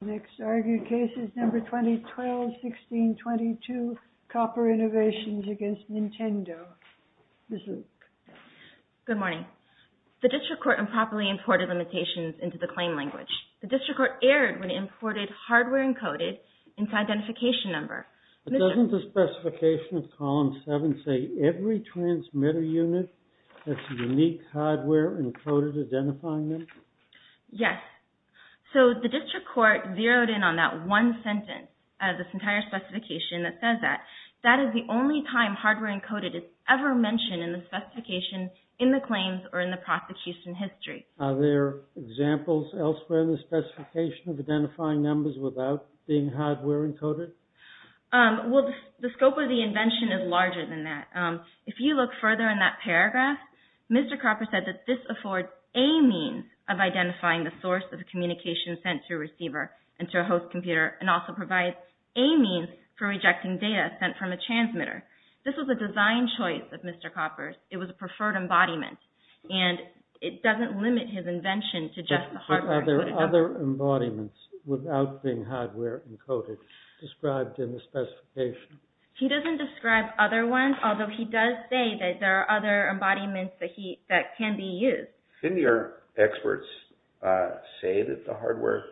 Next argued case is number 2012-16-22 COPPER INNOVATIONS v. NINTENDO Ms. Luke Good morning. The district court improperly imported limitations into the claim language. The district court erred when it imported hardware encoded into identification number. But doesn't the specification of column 7 say every transmitter unit has unique hardware encoded identifying them? Yes. So the district court zeroed in on that one sentence of this entire specification that says that. That is the only time hardware encoded is ever mentioned in the specification in the claims or in the prosecution history. Are there examples elsewhere in the specification of identifying numbers without being hardware encoded? Well, the scope of the invention is larger than that. If you look further in that paragraph, Mr. Copper said that this affords a means of identifying the source of communication sent to a receiver and to a host computer and also provides a means for rejecting data sent from a transmitter. This was a design choice of Mr. Copper's. It was a preferred embodiment. And it doesn't limit his invention to just the hardware. But are there other embodiments without being hardware encoded described in the specification? He doesn't describe other ones, although he does say that there are other embodiments that can be used. Didn't your experts say that the hardware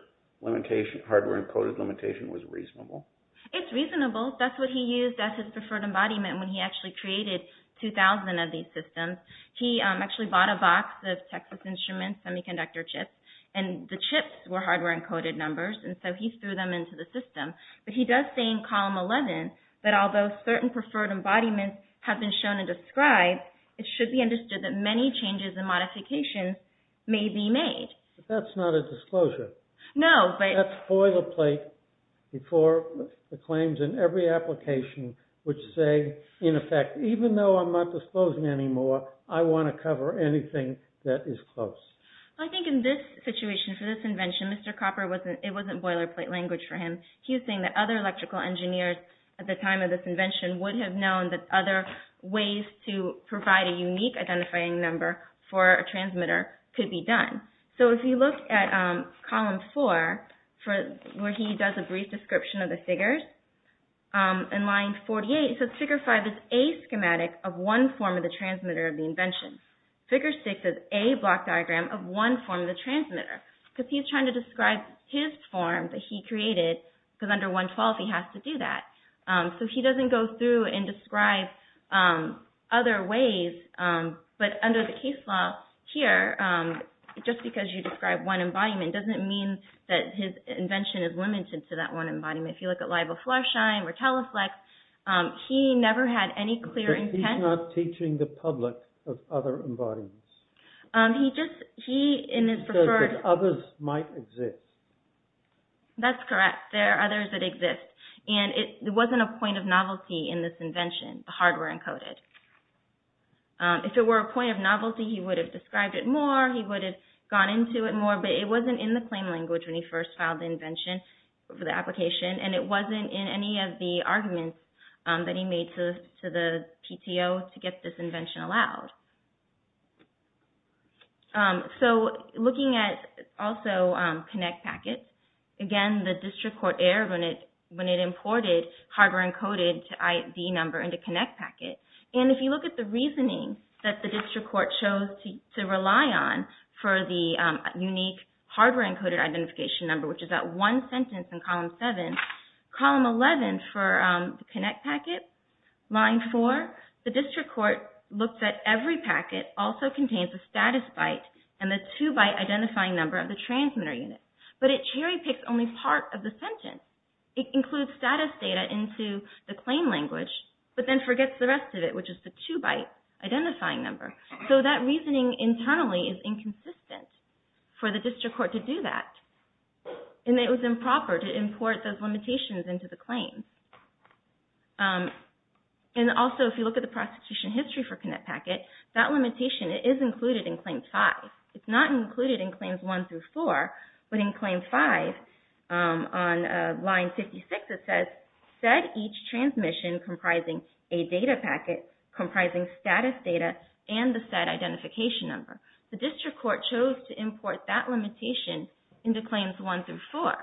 encoded limitation was reasonable? It's reasonable. That's what he used as his preferred embodiment when he actually created 2,000 of these systems. He actually bought a box of Texas Instruments semiconductor chips. And the chips were hardware encoded numbers, and so he threw them into the system. But he does say in column 11 that although certain preferred embodiments have been shown and described, it should be understood that many changes and modifications may be made. But that's not a disclosure. No. That's boilerplate before the claims in every application which say, in effect, even though I'm not disclosing anymore, I want to cover anything that is close. I think in this situation, for this invention, Mr. Copper, it wasn't boilerplate language for him. He was saying that other electrical engineers at the time of this invention would have known that other ways to provide a unique identifying number for a transmitter could be done. So, if you look at column 4, where he does a brief description of the figures, in line 48, so figure 5 is a schematic of one form of the transmitter of the invention. Figure 6 is a block diagram of one form of the transmitter, because he's trying to describe his form that he created, because under 112 he has to do that. So he doesn't go through and describe other ways, but under the case law here, just because you describe one embodiment doesn't mean that his invention is limited to that one embodiment. If you look at LiBoFluoroshine or Teleflex, he never had any clear intent. But he's not teaching the public of other embodiments. He says that others might exist. That's correct. There are others that exist. And it wasn't a point of novelty in this invention, the hardware encoded. If it were a point of novelty, he would have described it more, he would have gone into it more, but it wasn't in the claim language when he first filed the invention for the application, and it wasn't in any of the arguments that he made to the PTO to get this invention allowed. So looking at also ConnectPacket. Again, the district court erred when it imported hardware encoded ID number into ConnectPacket. And if you look at the reasoning that the district court chose to rely on for the unique hardware encoded identification number, which is that one sentence in column 7, column 11 for ConnectPacket, line 4, the district court looked at every packet also contains the status byte and the two-byte identifying number of the transmitter unit. But it cherry-picks only part of the sentence. It includes status data into the claim language, but then forgets the rest of it, which is the two-byte identifying number. So that reasoning internally is inconsistent for the district court to do that. And it was improper to import those limitations into the claim. And also, if you look at the prosecution history for ConnectPacket, that limitation is included in Claim 5. It's not included in Claims 1 through 4, but in Claim 5, on line 56, it says, said each transmission comprising a data packet comprising status data and the said identification number. The district court chose to import that limitation into Claims 1 through 4.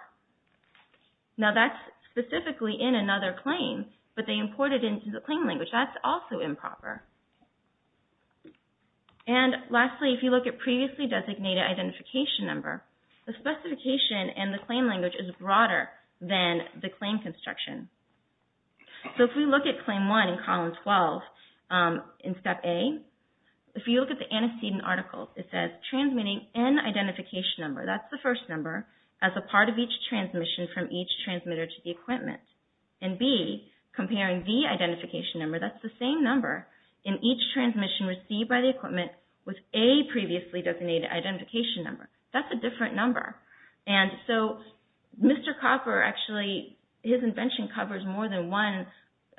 Now that's specifically in another claim, but they imported it into the claim language. That's also improper. And lastly, if you look at previously designated identification number, the specification and the claim language is broader than the claim construction. So if we look at Claim 1 in column 12 in Step A, if you look at the antecedent article, it says, transmitting an identification number, that's the first number, as a part of each transmission from each transmitter to the equipment. And B, comparing the identification number, that's the same number, in each transmission received by the equipment with a previously designated identification number. That's a different number. And so Mr. Copper, actually, his invention covers more than one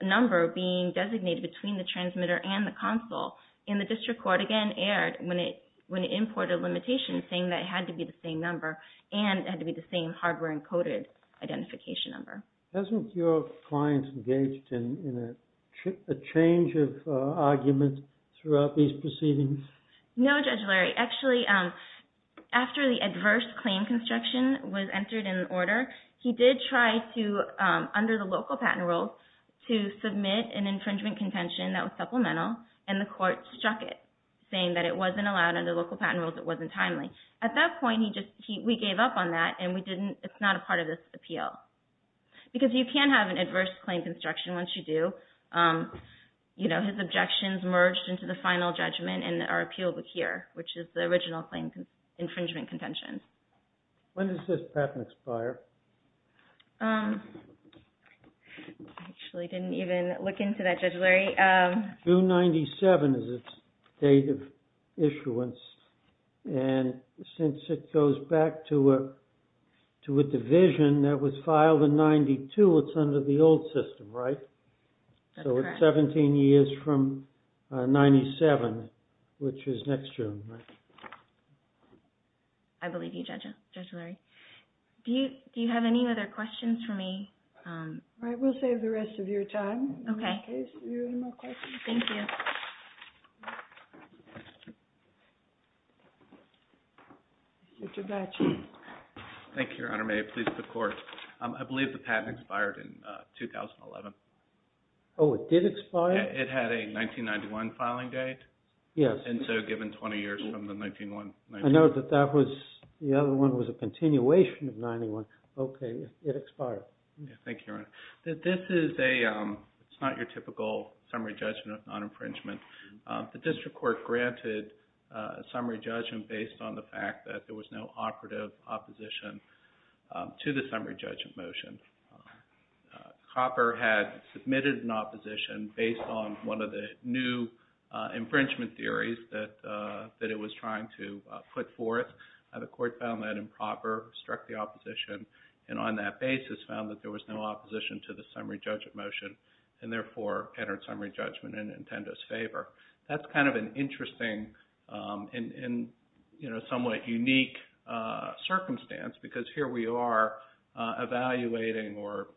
number being designated between the transmitter and the console. And the district court again erred when it imported a limitation saying that it had to be the same number and it had to be the same hardware encoded identification number. Hasn't your client engaged in a change of argument throughout these proceedings? No, Judge Larry. Actually, after the adverse claim construction was entered in order, he did try to, under the local patent rules, to submit an infringement contention that was supplemental and the court struck it, saying that it wasn't allowed under local patent rules, it wasn't timely. At that point, we gave up on that and it's not a part of this appeal. Because you can have an adverse claim construction once you do. His objections merged into the final judgment and are appealed here, which is the original infringement contention. When does this patent expire? I actually didn't even look into that, Judge Larry. June 97 is its date of issuance. And since it goes back to a division that was filed in 92, it's under the old system, right? That's correct. So it's 17 years from 97, which is next June, right? I believe you, Judge Larry. Do you have any other questions for me? All right, we'll save the rest of your time. Okay. Are there any more questions? Thank you. Mr. Blatche. Thank you, Your Honor. May it please the Court. I believe the patent expired in 2011. Oh, it did expire? It had a 1991 filing date. Yes. And so given 20 years from the 1991. I know that that was, the other one was a continuation of 91. Okay, it expired. Thank you, Your Honor. This is a, it's not your typical summary judgment of non-infringement. The district court granted a summary judgment based on the fact that there was no operative opposition to the summary judgment motion. Copper had submitted an opposition based on one of the new infringement theories that it was trying to put forth. The court found that improper, struck the opposition, and on that basis found that there was no opposition to the summary judgment motion, and therefore entered summary judgment in Intendo's favor. That's kind of an interesting and somewhat unique circumstance, because here we are evaluating or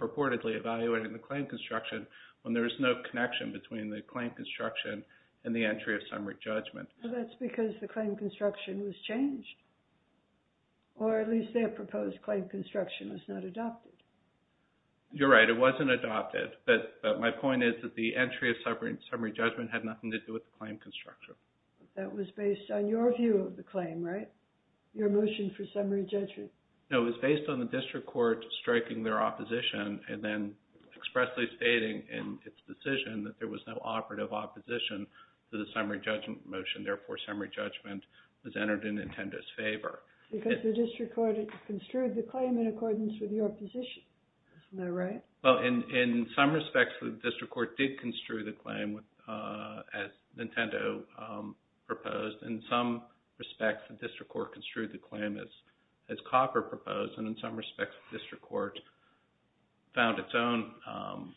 purportedly evaluating the claim construction when there is no connection between the claim construction and the entry of summary judgment. Well, that's because the claim construction was changed, or at least their proposed claim construction was not adopted. You're right. It wasn't adopted. But my point is that the entry of summary judgment had nothing to do with the claim construction. That was based on your view of the claim, right? Your motion for summary judgment. No, it was based on the district court striking their opposition and then expressly stating in its decision that there was no operative opposition to the summary judgment motion. Therefore, summary judgment was entered in Intendo's favor. Because the district court construed the claim in accordance with your position. Isn't that right? Well, in some respects, the district court did construe the claim as Nintendo proposed. In some respects, the district court construed the claim as Copper proposed. And in some respects, the district court found its own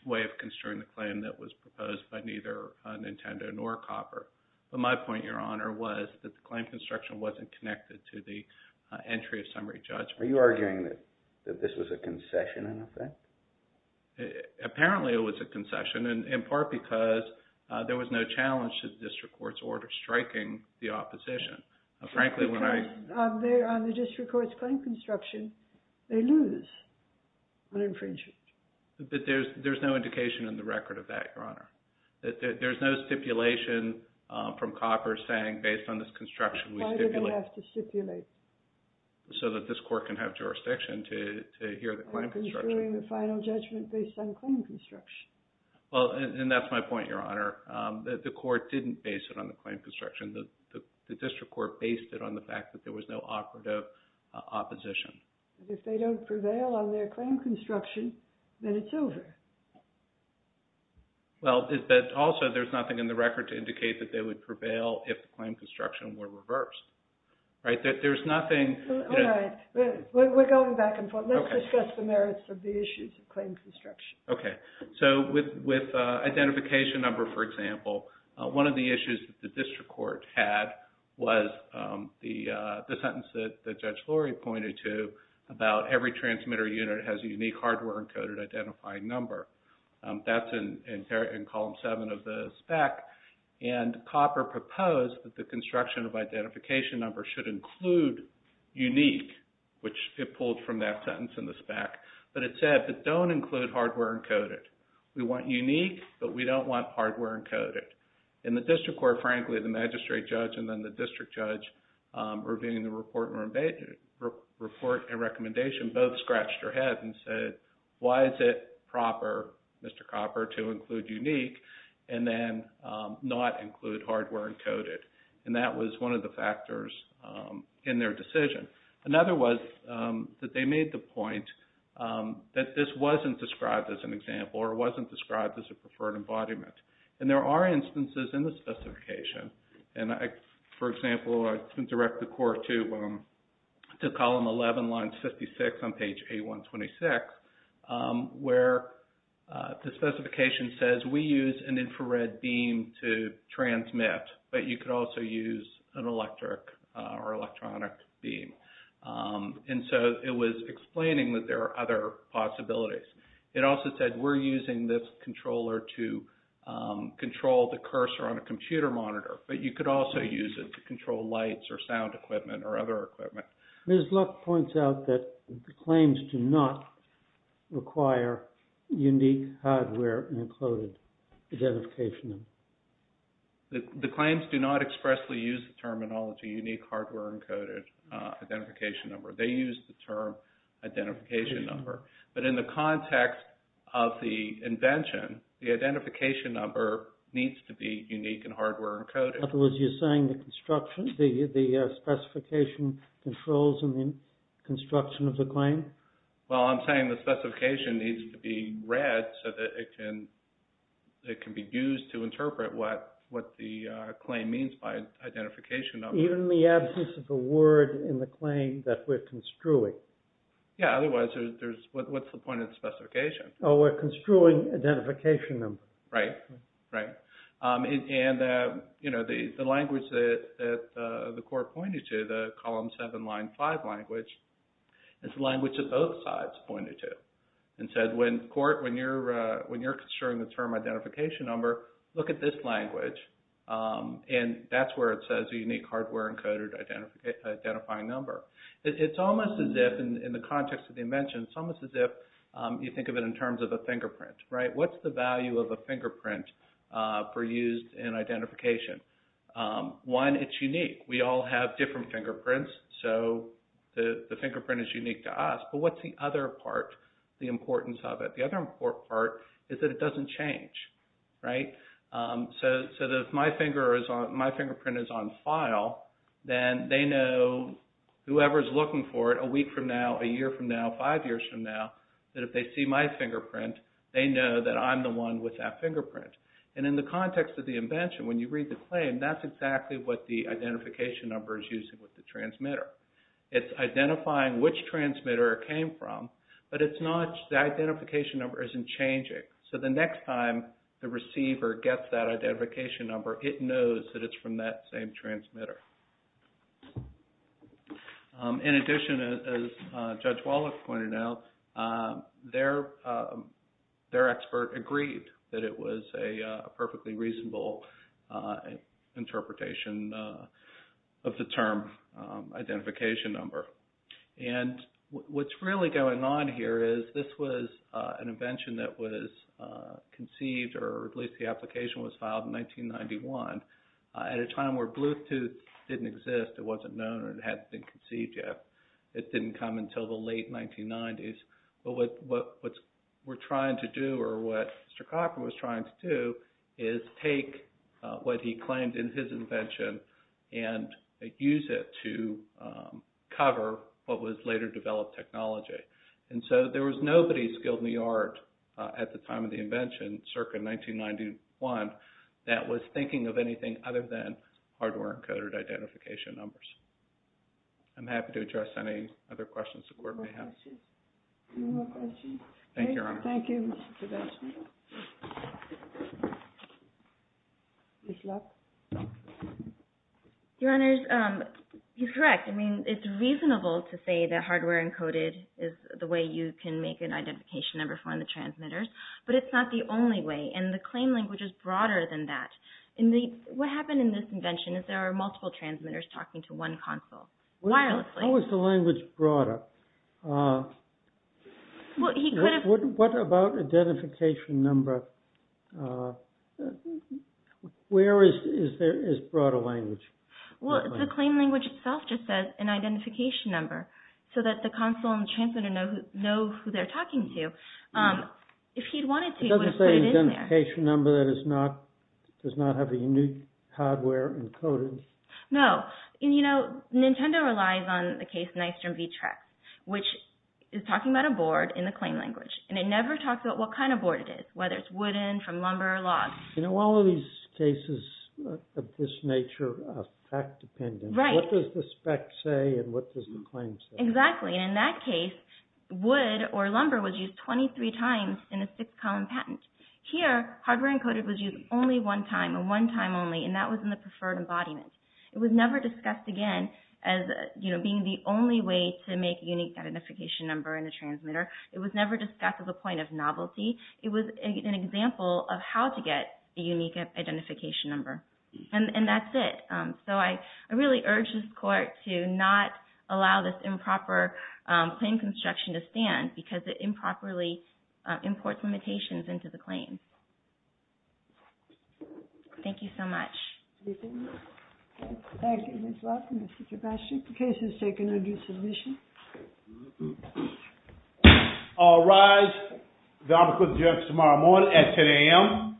way of construing the claim that was proposed by neither Nintendo nor Copper. But my point, Your Honor, was that the claim construction wasn't connected to the entry of summary judgment. Are you arguing that this was a concession in effect? Apparently, it was a concession, in part because there was no challenge to the district court's order striking the opposition. Because on the district court's claim construction, they lose on infringement. But there's no indication in the record of that, Your Honor. There's no stipulation from Copper saying, based on this construction, we stipulate. Why did they have to stipulate? So that this court can have jurisdiction to hear the claim construction. They're construing the final judgment based on claim construction. Well, and that's my point, Your Honor. The court didn't base it on the claim construction. The district court based it on the fact that there was no operative opposition. If they don't prevail on their claim construction, then it's over. Well, but also, there's nothing in the record to indicate that they would prevail if the claim construction were reversed. Right? There's nothing... All right. We're going back and forth. Let's discuss the merits of the issues of claim construction. Okay. So with identification number, for example, one of the issues that the district court had was the sentence that Judge Lurie pointed to about every transmitter unit has a unique hardware-encoded identifying number. That's in column seven of the spec. And Copper proposed that the construction of identification number should include unique, which it pulled from that sentence in the spec. But it said, but don't include hardware-encoded. We want unique, but we don't want hardware-encoded. And the district court, frankly, the magistrate judge and then the district judge, reviewing the report and recommendation, both scratched their heads and said, why is it proper, Mr. Copper, to include unique? And then not include hardware-encoded. And that was one of the factors in their decision. Another was that they made the point that this wasn't described as an example or it wasn't described as a preferred embodiment. And for example, I can direct the court to column 11, line 56 on page 8126, where the specification says we use an infrared beam to transmit, but you could also use an electric or electronic beam. And so it was explaining that there are other possibilities. It also said we're using this controller to control the cursor on a computer monitor, but you could also use it to control lights or sound equipment or other equipment. The claims do not expressly use the terminology unique hardware-encoded identification number. They use the term identification number. But in the context of the invention, the identification number needs to be unique and hardware-encoded. In other words, you're saying the construction, the specification controls in the construction of the claim? Well, I'm saying the specification needs to be read so that it can be used to interpret what the claim means by identification number. Even in the absence of a word in the claim that we're construing? Yeah, otherwise, what's the point of the specification? Oh, we're construing identification number. Right, right. And, you know, the language that the court pointed to, the column 7, line 5 language, is the language that both sides pointed to and said when court, when you're construing the term identification number, look at this language, and that's where it says unique hardware-encoded identifying number. It's almost as if, in the context of the invention, it's almost as if you think of it in terms of a fingerprint, right? What's the value of a fingerprint for use in identification? One, it's unique. We all have different fingerprints, so the fingerprint is unique to us. But what's the other part, the importance of it? The other important part is that it doesn't change, right? So if my fingerprint is on file, then they know whoever's looking for it a week from now, a year from now, five years from now, that if they see my fingerprint, they know that I'm the one with that fingerprint. And in the context of the invention, when you read the claim, that's exactly what the identification number is using with the transmitter. It's identifying which transmitter it came from, but it's not, the identification number isn't changing. So the next time the receiver gets that identification number, it knows that it's from that same transmitter. In addition, as Judge Wallach pointed out, their expert agreed that it was a perfectly reasonable interpretation of the term identification number. And what's really going on here is this was an invention that was conceived, or at least the application was filed in 1991, at a time where Bluetooth didn't exist, it wasn't known, or it hadn't been conceived yet. It didn't come until the late 1990s. But what we're trying to do, or what Mr. Cochran was trying to do, is take what he claimed in his invention and use it to cover what was later developed technology. And so there was nobody skilled in the art at the time of the invention, circa 1991, that was thinking of anything other than hardware-encoded identification numbers. I'm happy to address any other questions the Court may have. Any more questions? Thank you, Your Honor. Thank you, Mr. Podolsky. Your Honors, you're correct. I mean, it's reasonable to say that hardware-encoded is the way you can make an identification number for the transmitters, but it's not the only way. And the claim language is broader than that. What happened in this invention is there are multiple transmitters talking to one console, wirelessly. How is the language broader? What about identification number? Where is broader language? Well, the claim language itself just says an identification number, so that the console and the transmitter know who they're talking to. If he'd wanted to, he would have put it in there. It doesn't say identification number. That does not have a unique hardware encoded. No. You know, Nintendo relies on the case Nystrom v. Trex, which is talking about a board in the claim language. And it never talks about what kind of board it is, whether it's wooden, from lumber, or log. You know, all of these cases of this nature are fact-dependent. Right. What does the spec say, and what does the claim say? Exactly. And in that case, wood or lumber was used 23 times in a six-column patent. Here, hardware encoded was used only one time, and one time only, and that was in the preferred embodiment. It was never discussed again as, you know, being the only way to make a unique identification number in a transmitter. It was never discussed as a point of novelty. It was an example of how to get a unique identification number. And that's it. So I really urge this Court to not allow this improper claim construction to stand, because it improperly imports limitations into the claim. Thank you so much. Thank you. Thank you. And it's welcome, Mr. Sebastian. The case is taken under submission. All rise. The objection is tomorrow morning at 10 a.m.